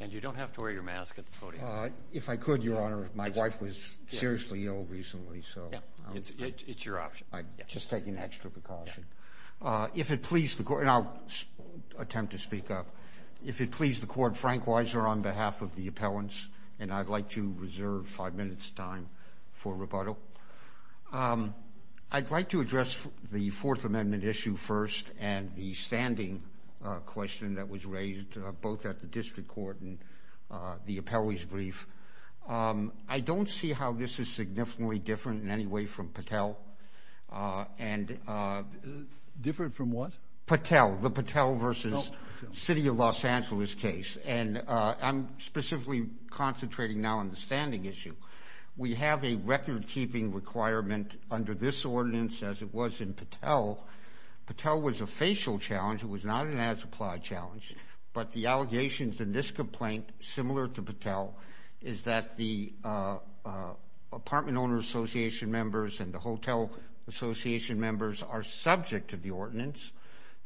And you don't have to wear your mask at the podium. If I could, Your Honor, my wife was seriously ill recently, so... It's your option. I'm just taking extra precaution. If it please the Court, and I'll attempt to speak up. If it please the Court, Frank Weiser on behalf of the appellants, and I'd like to reserve five minutes' time for rebuttal. I'd like to address the Fourth Amendment issue first and the standing question that was raised both at the district court and the appellee's brief. I don't see how this is significantly different in any way from Patel. Different from what? Patel, the Patel v. City of Los Angeles case. And I'm specifically concentrating now on the standing issue. We have a record-keeping requirement under this ordinance, as it was in Patel. Patel was a facial challenge. It was not an as-applied challenge. But the allegations in this complaint, similar to Patel, is that the apartment owner association members and the hotel association members are subject to the ordinance.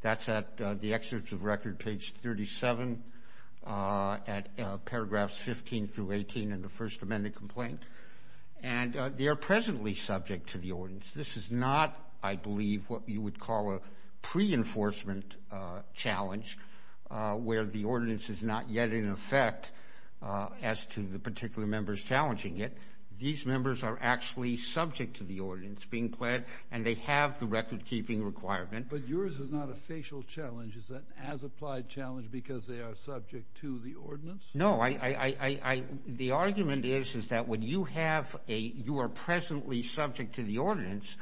That's at the excerpt of the record, page 37, at paragraphs 15 through 18 in the First Amendment complaint. And they are presently subject to the ordinance. This is not, I believe, what you would call a pre-enforcement challenge, where the ordinance is not yet in effect as to the particular members challenging it. These members are actually subject to the ordinance being pled, and they have the record-keeping requirement. But yours is not a facial challenge. Is that an as-applied challenge because they are subject to the ordinance? No. The argument is that when you are presently subject to the ordinance,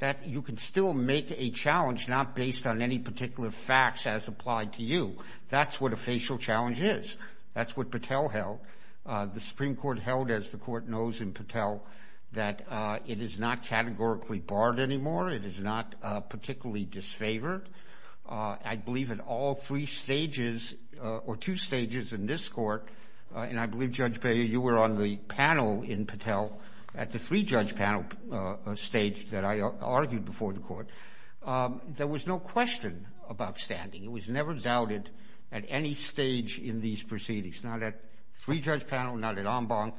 that you can still make a challenge not based on any particular facts as applied to you. That's what a facial challenge is. That's what Patel held. The Supreme Court held, as the Court knows in Patel, that it is not categorically barred anymore. It is not particularly disfavored. I believe in all three stages or two stages in this Court, and I believe, Judge Beyer, you were on the panel in Patel at the three-judge panel stage that I argued before the Court, there was no question about standing. It was never doubted at any stage in these proceedings, not at three-judge panel, not at en banc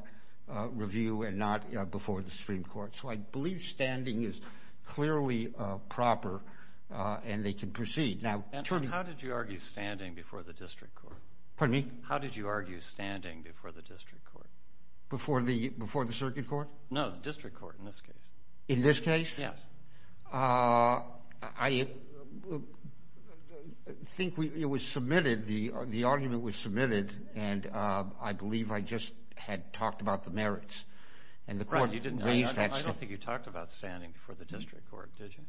review, and not before the Supreme Court. So I believe standing is clearly proper and they can proceed. How did you argue standing before the district court? Pardon me? How did you argue standing before the district court? Before the circuit court? No, the district court in this case. In this case? Yes. I think it was submitted, the argument was submitted, and I believe I just had talked about the merits. I don't think you talked about standing before the district court, did you?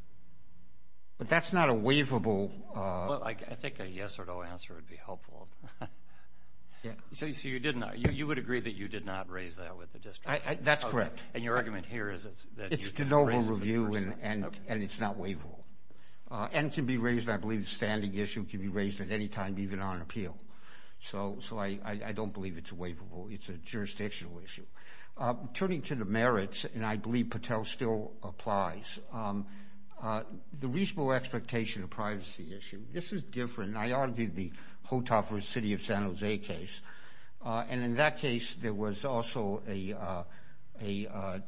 But that's not a waivable. I think a yes or no answer would be helpful. So you would agree that you did not raise that with the district court? That's correct. And your argument here is that you did not raise it with the district court? It's de novo review and it's not waivable. And it can be raised, I believe, as a standing issue. It can be raised at any time, even on appeal. So I don't believe it's waivable. It's a jurisdictional issue. Turning to the merits, and I believe Patel still applies, the reasonable expectation of privacy issue. This is different. I argued the Hotoffer City of San Jose case. And in that case, there was also a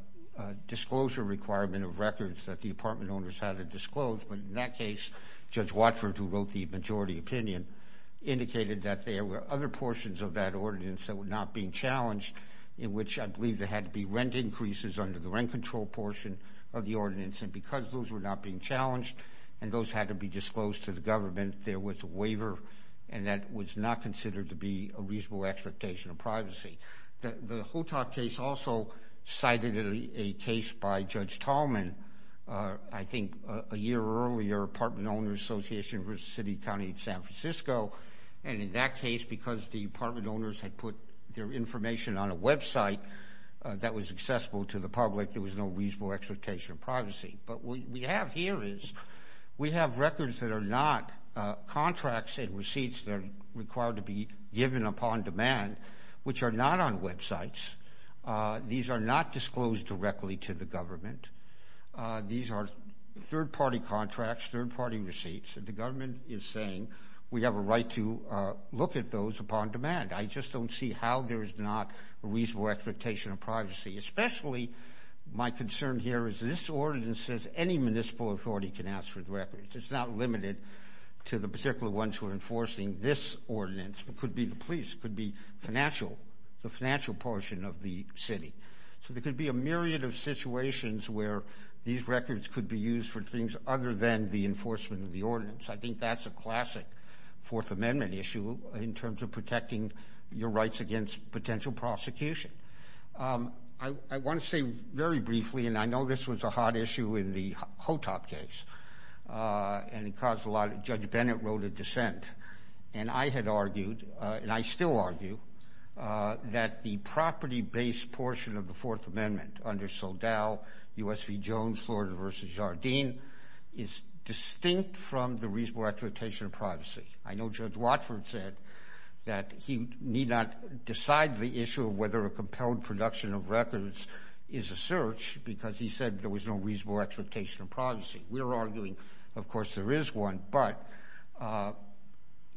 disclosure requirement of records that the apartment owners had to disclose. But in that case, Judge Watford, who wrote the majority opinion, indicated that there were other portions of that ordinance that were not being challenged, in which I believe there had to be rent increases under the rent control portion of the ordinance. And because those were not being challenged and those had to be disclosed to the government, there was a waiver and that was not considered to be a reasonable expectation of privacy. The Hotoff case also cited a case by Judge Tallman, I think a year earlier, Apartment Owners Association versus City, County, and San Francisco. And in that case, because the apartment owners had put their information on a website that was accessible to the public, there was no reasonable expectation of privacy. But what we have here is we have records that are not contracts and receipts that are required to be given upon demand, which are not on websites. These are not disclosed directly to the government. These are third-party contracts, third-party receipts. The government is saying we have a right to look at those upon demand. I just don't see how there is not a reasonable expectation of privacy, especially my concern here is this ordinance says any municipal authority can ask for the records. It's not limited to the particular ones who are enforcing this ordinance. It could be the police. It could be financial, the financial portion of the city. So there could be a myriad of situations where these records could be used for things other than the enforcement of the ordinance. I think that's a classic Fourth Amendment issue in terms of protecting your rights against potential prosecution. I want to say very briefly, and I know this was a hot issue in the Hotoff case, and it caused a lot of – and I had argued, and I still argue, that the property-based portion of the Fourth Amendment under Saldell, U.S. v. Jones, Florida v. Jardine is distinct from the reasonable expectation of privacy. I know Judge Watford said that he need not decide the issue of whether a compelled production of records is a search because he said there was no reasonable expectation of privacy. We're arguing, of course, there is one. But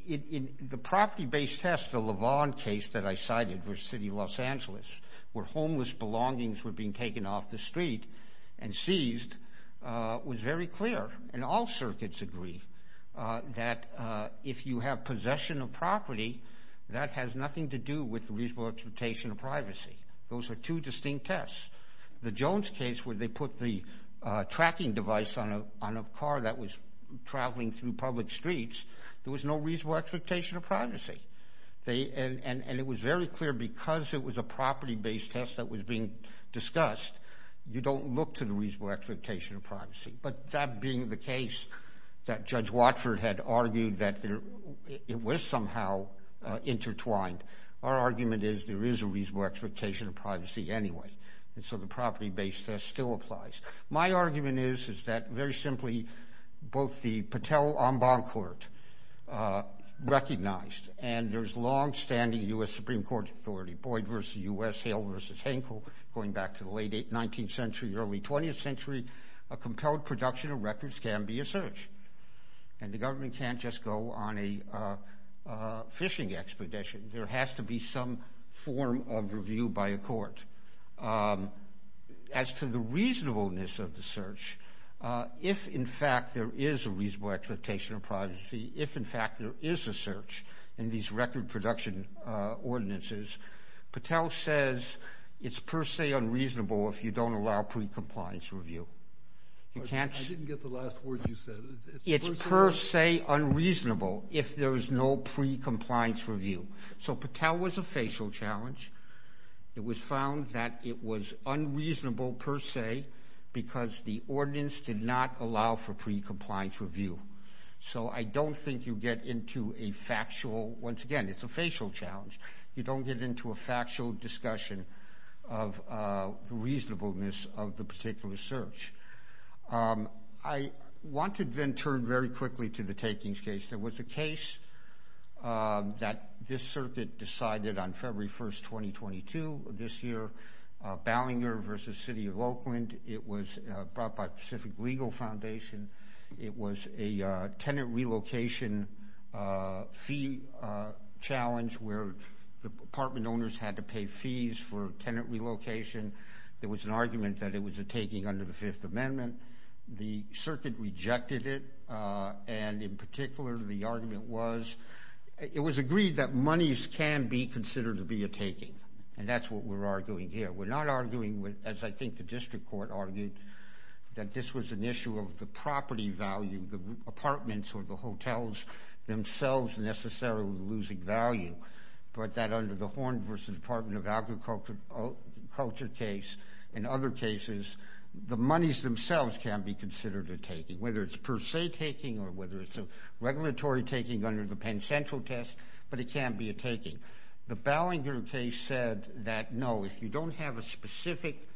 in the property-based test, the Lavon case that I cited for City of Los Angeles, where homeless belongings were being taken off the street and seized, was very clear, and all circuits agree, that if you have possession of property, that has nothing to do with reasonable expectation of privacy. Those are two distinct tests. The Jones case, where they put the tracking device on a car that was traveling through public streets, there was no reasonable expectation of privacy. And it was very clear, because it was a property-based test that was being discussed, you don't look to the reasonable expectation of privacy. But that being the case that Judge Watford had argued that it was somehow intertwined, our argument is there is a reasonable expectation of privacy anyway. And so the property-based test still applies. My argument is that very simply, both the Patel-Omban court recognized, and there's longstanding U.S. Supreme Court authority, Boyd v. U.S., Hale v. Hankel, going back to the late 19th century, early 20th century, a compelled production of records can be a search. And the government can't just go on a fishing expedition. There has to be some form of review by a court. As to the reasonableness of the search, if, in fact, there is a reasonable expectation of privacy, if, in fact, there is a search in these record production ordinances, Patel says it's per se unreasonable if you don't allow pre-compliance review. I didn't get the last word you said. It's per se unreasonable if there is no pre-compliance review. So Patel was a facial challenge. It was found that it was unreasonable per se because the ordinance did not allow for pre-compliance review. So I don't think you get into a factual, once again, it's a facial challenge. You don't get into a factual discussion of the reasonableness of the particular search. I want to then turn very quickly to the takings case. There was a case that this circuit decided on February 1st, 2022, this year, Ballinger v. City of Oakland. It was brought by Pacific Legal Foundation. It was a tenant relocation fee challenge where the apartment owners had to pay fees for tenant relocation. There was an argument that it was a taking under the Fifth Amendment. The circuit rejected it, and in particular, the argument was it was agreed that monies can be considered to be a taking, and that's what we're arguing here. We're not arguing, as I think the district court argued, that this was an issue of the property value, the apartments or the hotels themselves necessarily losing value, but that under the Horn v. Department of Agriculture case and other cases, the monies themselves can be considered a taking, whether it's per se taking or whether it's a regulatory taking under the Penn Central test, but it can be a taking. The Ballinger case said that, no, if you don't have a specific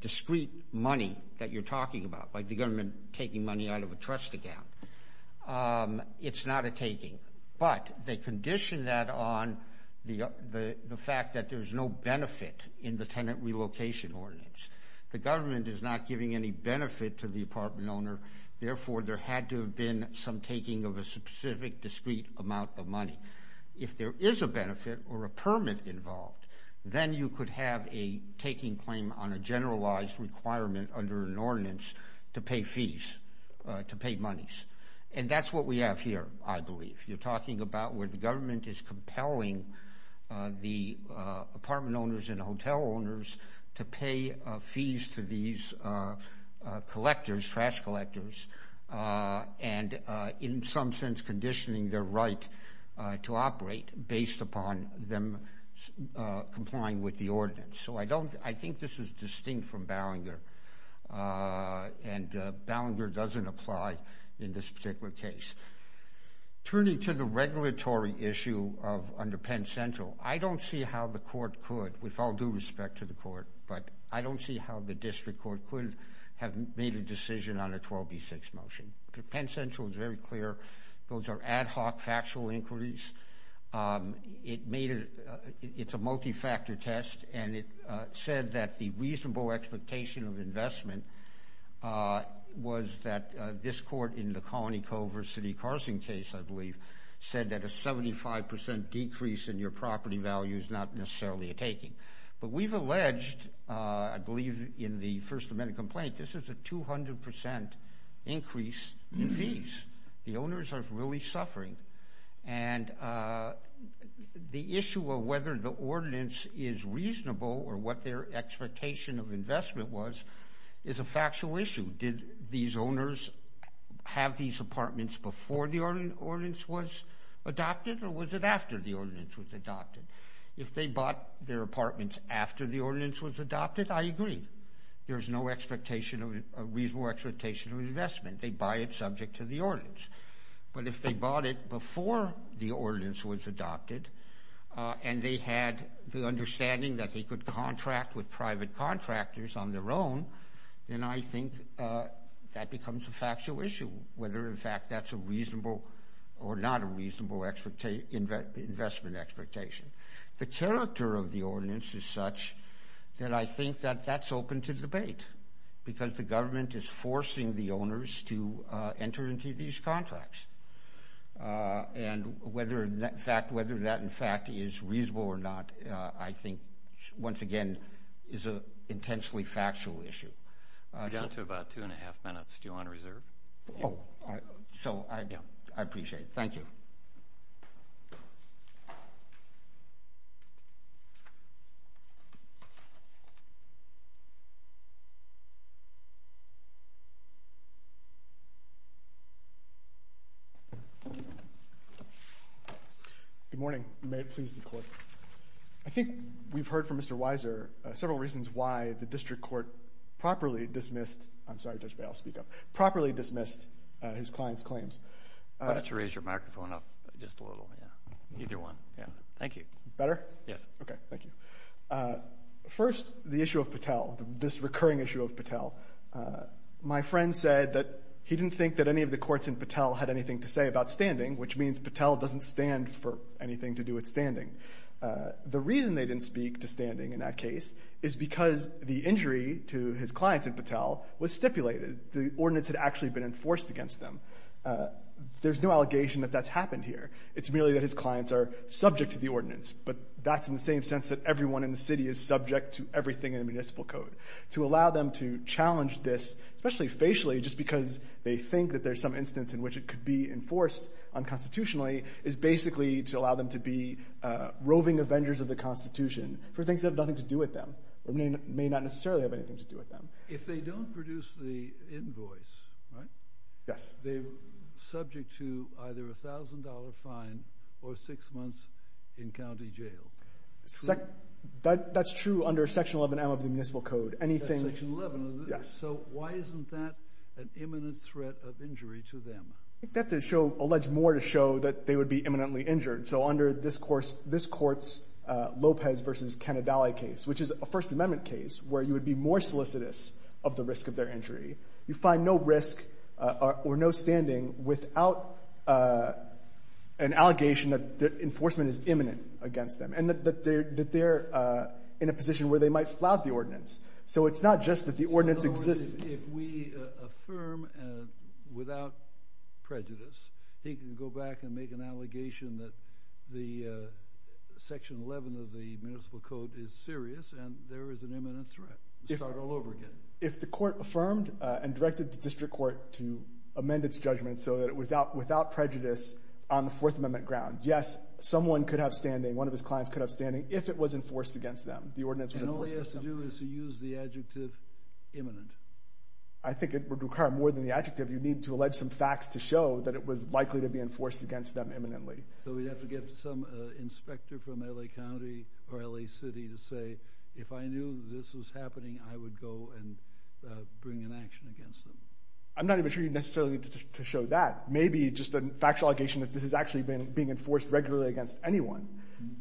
discrete money that you're talking about, like the government taking money out of a trust account, it's not a taking. But they condition that on the fact that there's no benefit in the tenant relocation ordinance. The government is not giving any benefit to the apartment owner, therefore there had to have been some taking of a specific discrete amount of money. If there is a benefit or a permit involved, then you could have a taking claim on a generalized requirement under an ordinance to pay fees, to pay monies, and that's what we have here, I believe. If you're talking about where the government is compelling the apartment owners and hotel owners to pay fees to these collectors, trash collectors, and in some sense conditioning their right to operate based upon them complying with the ordinance. So I think this is distinct from Ballinger, and Ballinger doesn't apply in this particular case. Turning to the regulatory issue under Penn Central, I don't see how the court could, with all due respect to the court, but I don't see how the district court could have made a decision on a 12B6 motion. Penn Central is very clear, those are ad hoc factual inquiries. It's a multi-factor test, and it said that the reasonable expectation of investment was that this court in the Colony Culver City Carson case, I believe, said that a 75% decrease in your property value is not necessarily a taking. But we've alleged, I believe in the First Amendment complaint, this is a 200% increase in fees. The owners are really suffering, and the issue of whether the ordinance is reasonable or what their expectation of investment was is a factual issue. Did these owners have these apartments before the ordinance was adopted, or was it after the ordinance was adopted? If they bought their apartments after the ordinance was adopted, I agree. There's no reasonable expectation of investment. They buy it subject to the ordinance. But if they bought it before the ordinance was adopted and they had the understanding that they could contract with private contractors on their own, then I think that becomes a factual issue, whether in fact that's a reasonable or not a reasonable investment expectation. The character of the ordinance is such that I think that that's open to debate because the government is forcing the owners to enter into these contracts. And whether that, in fact, is reasonable or not, I think, once again, is an intensely factual issue. You've got to about two and a half minutes. Do you want to reserve? Oh, so I appreciate it. Thank you. Thank you. Good morning. May it please the Court. I think we've heard from Mr. Weiser several reasons why the district court properly dismissed his client's claims. Why don't you raise your microphone up just a little? Either one. Thank you. Better? Yes. Okay. Thank you. First, the issue of Patel, this recurring issue of Patel. My friend said that he didn't think that any of the courts in Patel had anything to say about standing, which means Patel doesn't stand for anything to do with standing. The reason they didn't speak to standing in that case is because the injury to his clients in Patel was stipulated. The ordinance had actually been enforced against them. There's no allegation that that's happened here. It's merely that his clients are subject to the ordinance, but that's in the same sense that everyone in the city is subject to everything in the municipal code. To allow them to challenge this, especially facially, just because they think that there's some instance in which it could be enforced unconstitutionally, is basically to allow them to be roving avengers of the Constitution for things that have nothing to do with them or may not necessarily have anything to do with them. If they don't produce the invoice, right? Yes. They're subject to either a $1,000 fine or six months in county jail. That's true under Section 11M of the municipal code. Section 11? Yes. So why isn't that an imminent threat of injury to them? I think that's to show, allege more to show, that they would be imminently injured. So under this court's Lopez v. Cannadale case, which is a First Amendment case where you would be more solicitous of the risk of their injury, you find no risk or no standing without an allegation that enforcement is imminent against them and that they're in a position where they might flout the ordinance. So it's not just that the ordinance exists. If we affirm without prejudice, he can go back and make an allegation that the Section 11 of the municipal code is serious and there is an imminent threat and start all over again. If the court affirmed and directed the district court to amend its judgment so that it was without prejudice on the Fourth Amendment ground, yes, someone could have standing, one of his clients could have standing, if it was enforced against them, the ordinance was enforced against them. And all he has to do is to use the adjective imminent. I think it would require more than the adjective. You need to allege some facts to show that it was likely to be enforced against them imminently. So we'd have to get some inspector from L.A. County or L.A. City to say, if I knew this was happening, I would go and bring an action against them. I'm not even sure you necessarily need to show that. Maybe just a factual allegation that this is actually being enforced regularly against anyone.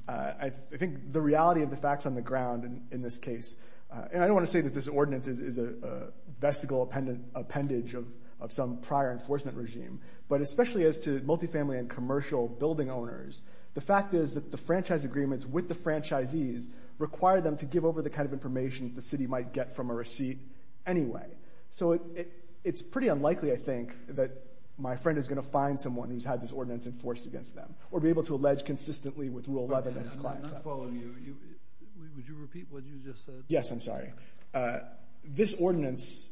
I think the reality of the facts on the ground in this case, and I don't want to say that this ordinance is a vesicle appendage of some prior enforcement regime, but especially as to multifamily and commercial building owners, the fact is that the franchise agreements with the franchisees require them to give over the kind of information the city might get from a receipt anyway. So it's pretty unlikely, I think, that my friend is going to find someone who's had this ordinance enforced against them or be able to allege consistently with Rule 11 and his clients. I'm not following you. Would you repeat what you just said? Yes, I'm sorry. This ordinance,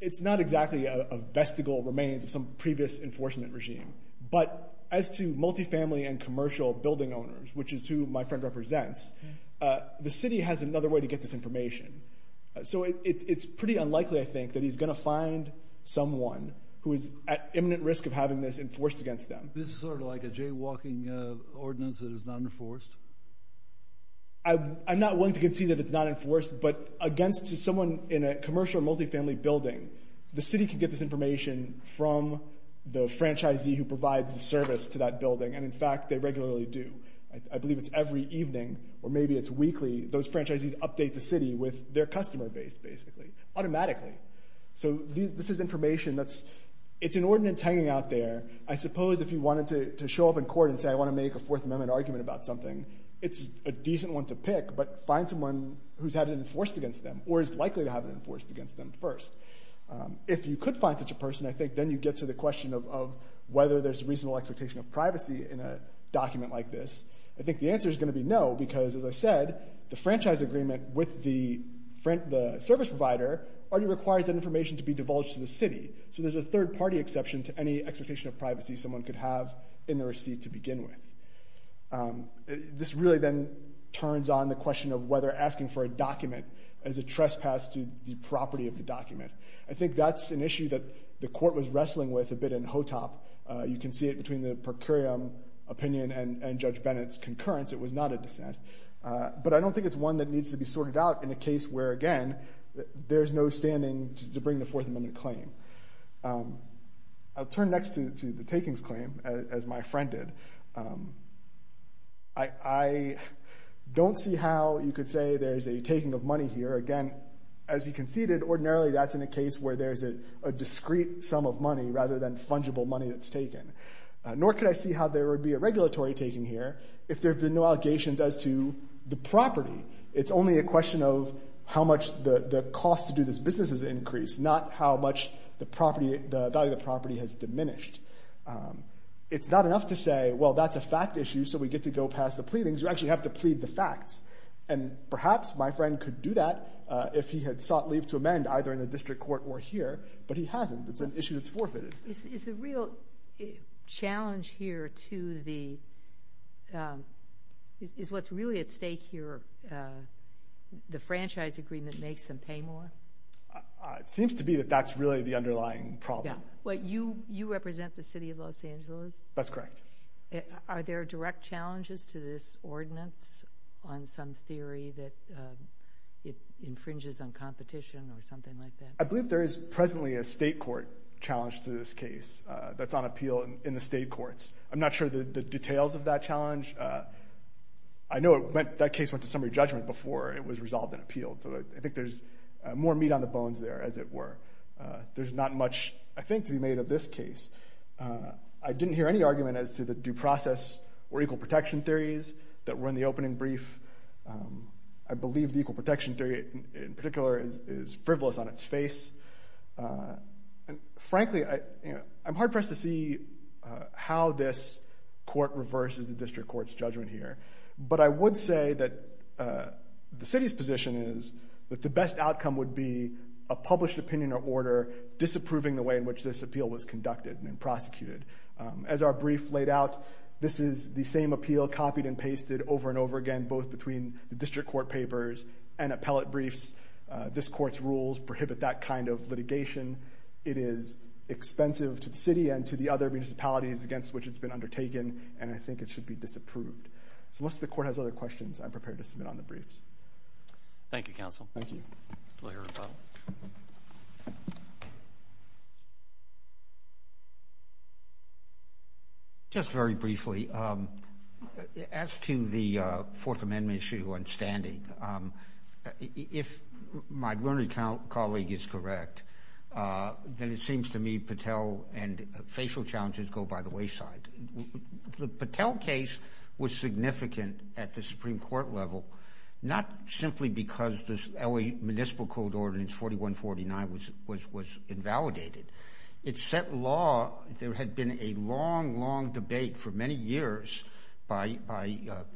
it's not exactly a vesicle remains of some previous enforcement regime. But as to multifamily and commercial building owners, which is who my friend represents, the city has another way to get this information. So it's pretty unlikely, I think, that he's going to find someone who is at imminent risk of having this enforced against them. This is sort of like a jaywalking ordinance that is not enforced. I'm not willing to concede that it's not enforced, but against someone in a commercial multifamily building, the city can get this information from the franchisee who provides the service to that building. And in fact, they regularly do. I believe it's every evening or maybe it's weekly. Those franchisees update the city with their customer base, basically, automatically. So this is information that's, it's an ordinance hanging out there. I suppose if you wanted to show up in court and say, I want to make a Fourth Amendment argument about something, it's a decent one to pick, but find someone who's had it enforced against them or is likely to have it enforced against them first. If you could find such a person, I think, then you get to the question of whether there's reasonable expectation of privacy in a document like this. I think the answer is going to be no, because, as I said, the franchise agreement with the service provider already requires that information to be divulged to the city. So there's a third-party exception to any expectation of privacy someone could have in the receipt to begin with. This really then turns on the question of whether asking for a document is a trespass to the property of the document. I think that's an issue that the court was wrestling with a bit in HOTOP. You can see it between the per curiam opinion and Judge Bennett's concurrence. It was not a dissent. But I don't think it's one that needs to be sorted out in a case where, again, there's no standing to bring the Fourth Amendment claim. I'll turn next to the takings claim, as my friend did. I don't see how you could say there's a taking of money here. Again, as you conceded, ordinarily that's in a case where there's a discrete sum of money rather than fungible money that's taken. Nor could I see how there would be a regulatory taking here if there had been no allegations as to the property. It's only a question of how much the cost to do this business has increased, not how much the value of the property has diminished. It's not enough to say, well, that's a fact issue, so we get to go past the pleadings. You actually have to plead the facts. And perhaps my friend could do that if he had sought leave to amend either in the district court or here. But he hasn't. It's an issue that's forfeited. Is the real challenge here to the – is what's really at stake here the franchise agreement makes them pay more? It seems to be that that's really the underlying problem. You represent the city of Los Angeles? That's correct. Are there direct challenges to this ordinance on some theory that it infringes on competition or something like that? I believe there is presently a state court challenge to this case that's on appeal in the state courts. I'm not sure the details of that challenge. I know that case went to summary judgment before it was resolved and appealed, so I think there's more meat on the bones there, as it were. There's not much, I think, to be made of this case. I didn't hear any argument as to the due process or equal protection theories that were in the opening brief. I believe the equal protection theory in particular is frivolous on its face. Frankly, I'm hard-pressed to see how this court reverses the district court's judgment here. But I would say that the city's position is that the best outcome would be a published opinion or order disapproving the way in which this appeal was conducted and prosecuted. As our brief laid out, this is the same appeal copied and pasted over and over again, both between the district court papers and appellate briefs. This court's rules prohibit that kind of litigation. It is expensive to the city and to the other municipalities against which it's been undertaken, and I think it should be disapproved. So unless the court has other questions, I'm prepared to submit on the briefs. Thank you, counsel. Thank you. Lawyer Rappelle. Just very briefly, as to the Fourth Amendment issue on standing, if my learned colleague is correct, then it seems to me Patel and facial challenges go by the wayside. The Patel case was significant at the Supreme Court level, not simply because this LA Municipal Code Ordinance 4149 was invalidated. It set law. There had been a long, long debate for many years by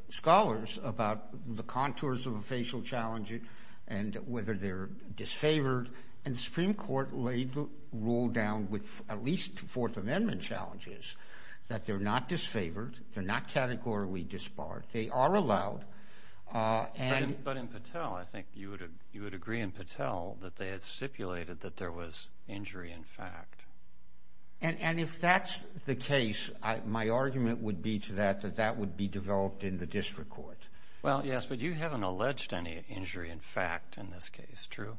scholars about the contours of a facial challenge and whether they're disfavored. And the Supreme Court laid the rule down with at least Fourth Amendment challenges that they're not disfavored. They're not categorically disbarred. They are allowed. But in Patel, I think you would agree in Patel that they had stipulated that there was injury in fact. And if that's the case, my argument would be to that that that would be developed in the district court. Well, yes, but you haven't alleged any injury in fact in this case. That's true.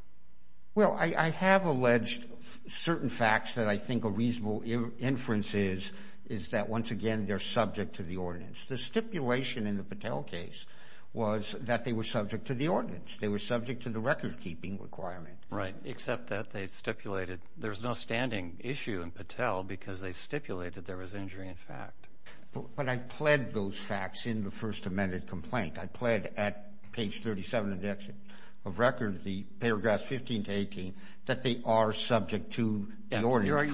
Well, I have alleged certain facts that I think a reasonable inference is, is that once again, they're subject to the ordinance. The stipulation in the Patel case was that they were subject to the ordinance. They were subject to the recordkeeping requirement. Right, except that they stipulated there's no standing issue in Patel because they stipulated there was injury in fact. But I pled those facts in the First Amendment complaint. I pled at page 37 of the action of record, the paragraphs 15 to 18, that they are subject to the ordinance.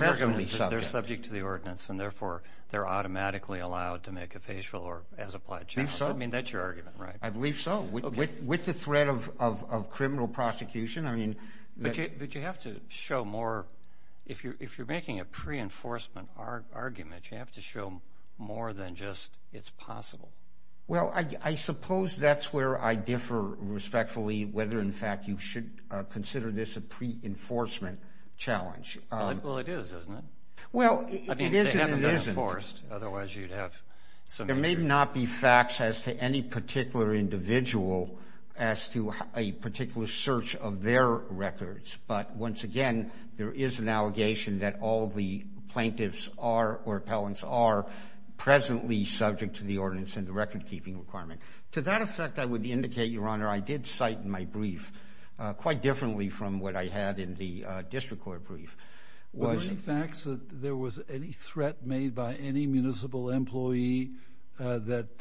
They're subject to the ordinance, and therefore, they're automatically allowed to make a facial or as applied challenge. I mean, that's your argument, right? I believe so. With the threat of criminal prosecution, I mean. But you have to show more. If you're making a pre-enforcement argument, you have to show more than just it's possible. Well, I suppose that's where I differ respectfully whether in fact you should consider this a pre-enforcement challenge. Well, it is, isn't it? Well, it is and it isn't. I mean, if they haven't been enforced, otherwise you'd have some issue. There may not be facts as to any particular individual as to a particular search of their records. But once again, there is an allegation that all the plaintiffs are or appellants are presently subject to the ordinance and the record-keeping requirement. To that effect, I would indicate, Your Honor, I did cite in my brief quite differently from what I had in the district court brief. Were there any facts that there was any threat made by any municipal employee that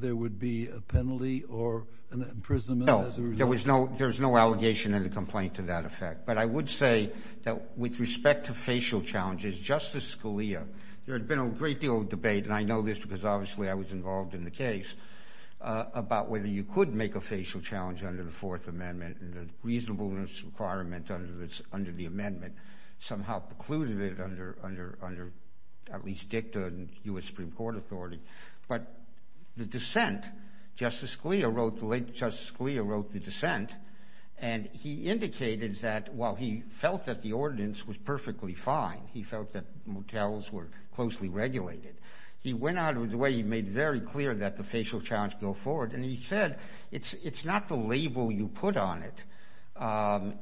there would be a penalty or an imprisonment as a result? There was no allegation in the complaint to that effect. But I would say that with respect to facial challenges, Justice Scalia, there had been a great deal of debate, and I know this because obviously I was involved in the case, about whether you could make a facial challenge under the Fourth Amendment and the reasonableness requirement under the amendment somehow precluded it under at least dicta and U.S. Supreme Court authority. But the dissent, Justice Scalia wrote the dissent, and he indicated that while he felt that the ordinance was perfectly fine, he felt that motels were closely regulated. He went out with the way he made very clear that the facial challenge go forward, and he said it's not the label you put on it.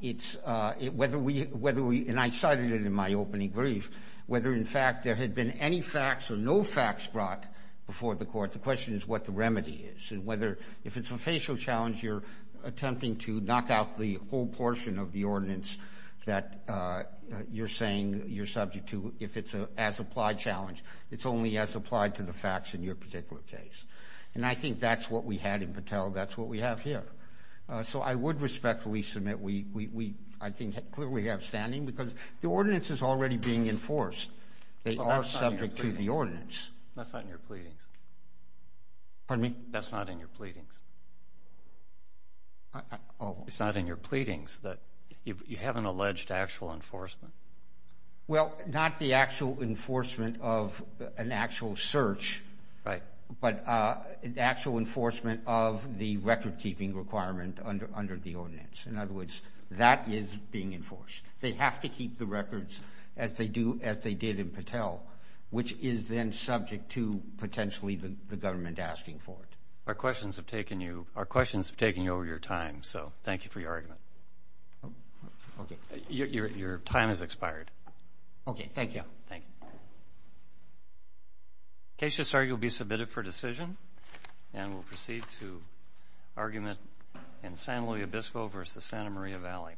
It's whether we, and I cited it in my opening brief, whether in fact there had been any facts or no facts brought before the court. The question is what the remedy is and whether, if it's a facial challenge, you're attempting to knock out the whole portion of the ordinance that you're saying you're subject to, if it's an as-applied challenge, it's only as applied to the facts in your particular case. And I think that's what we had in Patel. That's what we have here. So I would respectfully submit we, I think, clearly have standing because the ordinance is already being enforced. They are subject to the ordinance. That's not in your pleadings. Pardon me? That's not in your pleadings. Oh. It's not in your pleadings that you have an alleged actual enforcement. Well, not the actual enforcement of an actual search. Right. But actual enforcement of the record-keeping requirement under the ordinance. In other words, that is being enforced. They have to keep the records as they did in Patel, which is then subject to potentially the government asking for it. Our questions have taken you over your time, so thank you for your argument. Okay. Your time has expired. Okay. Thank you. Thank you. Case just argued will be submitted for decision. And we'll proceed to argument in San Luis Obispo v. Santa Maria Valley.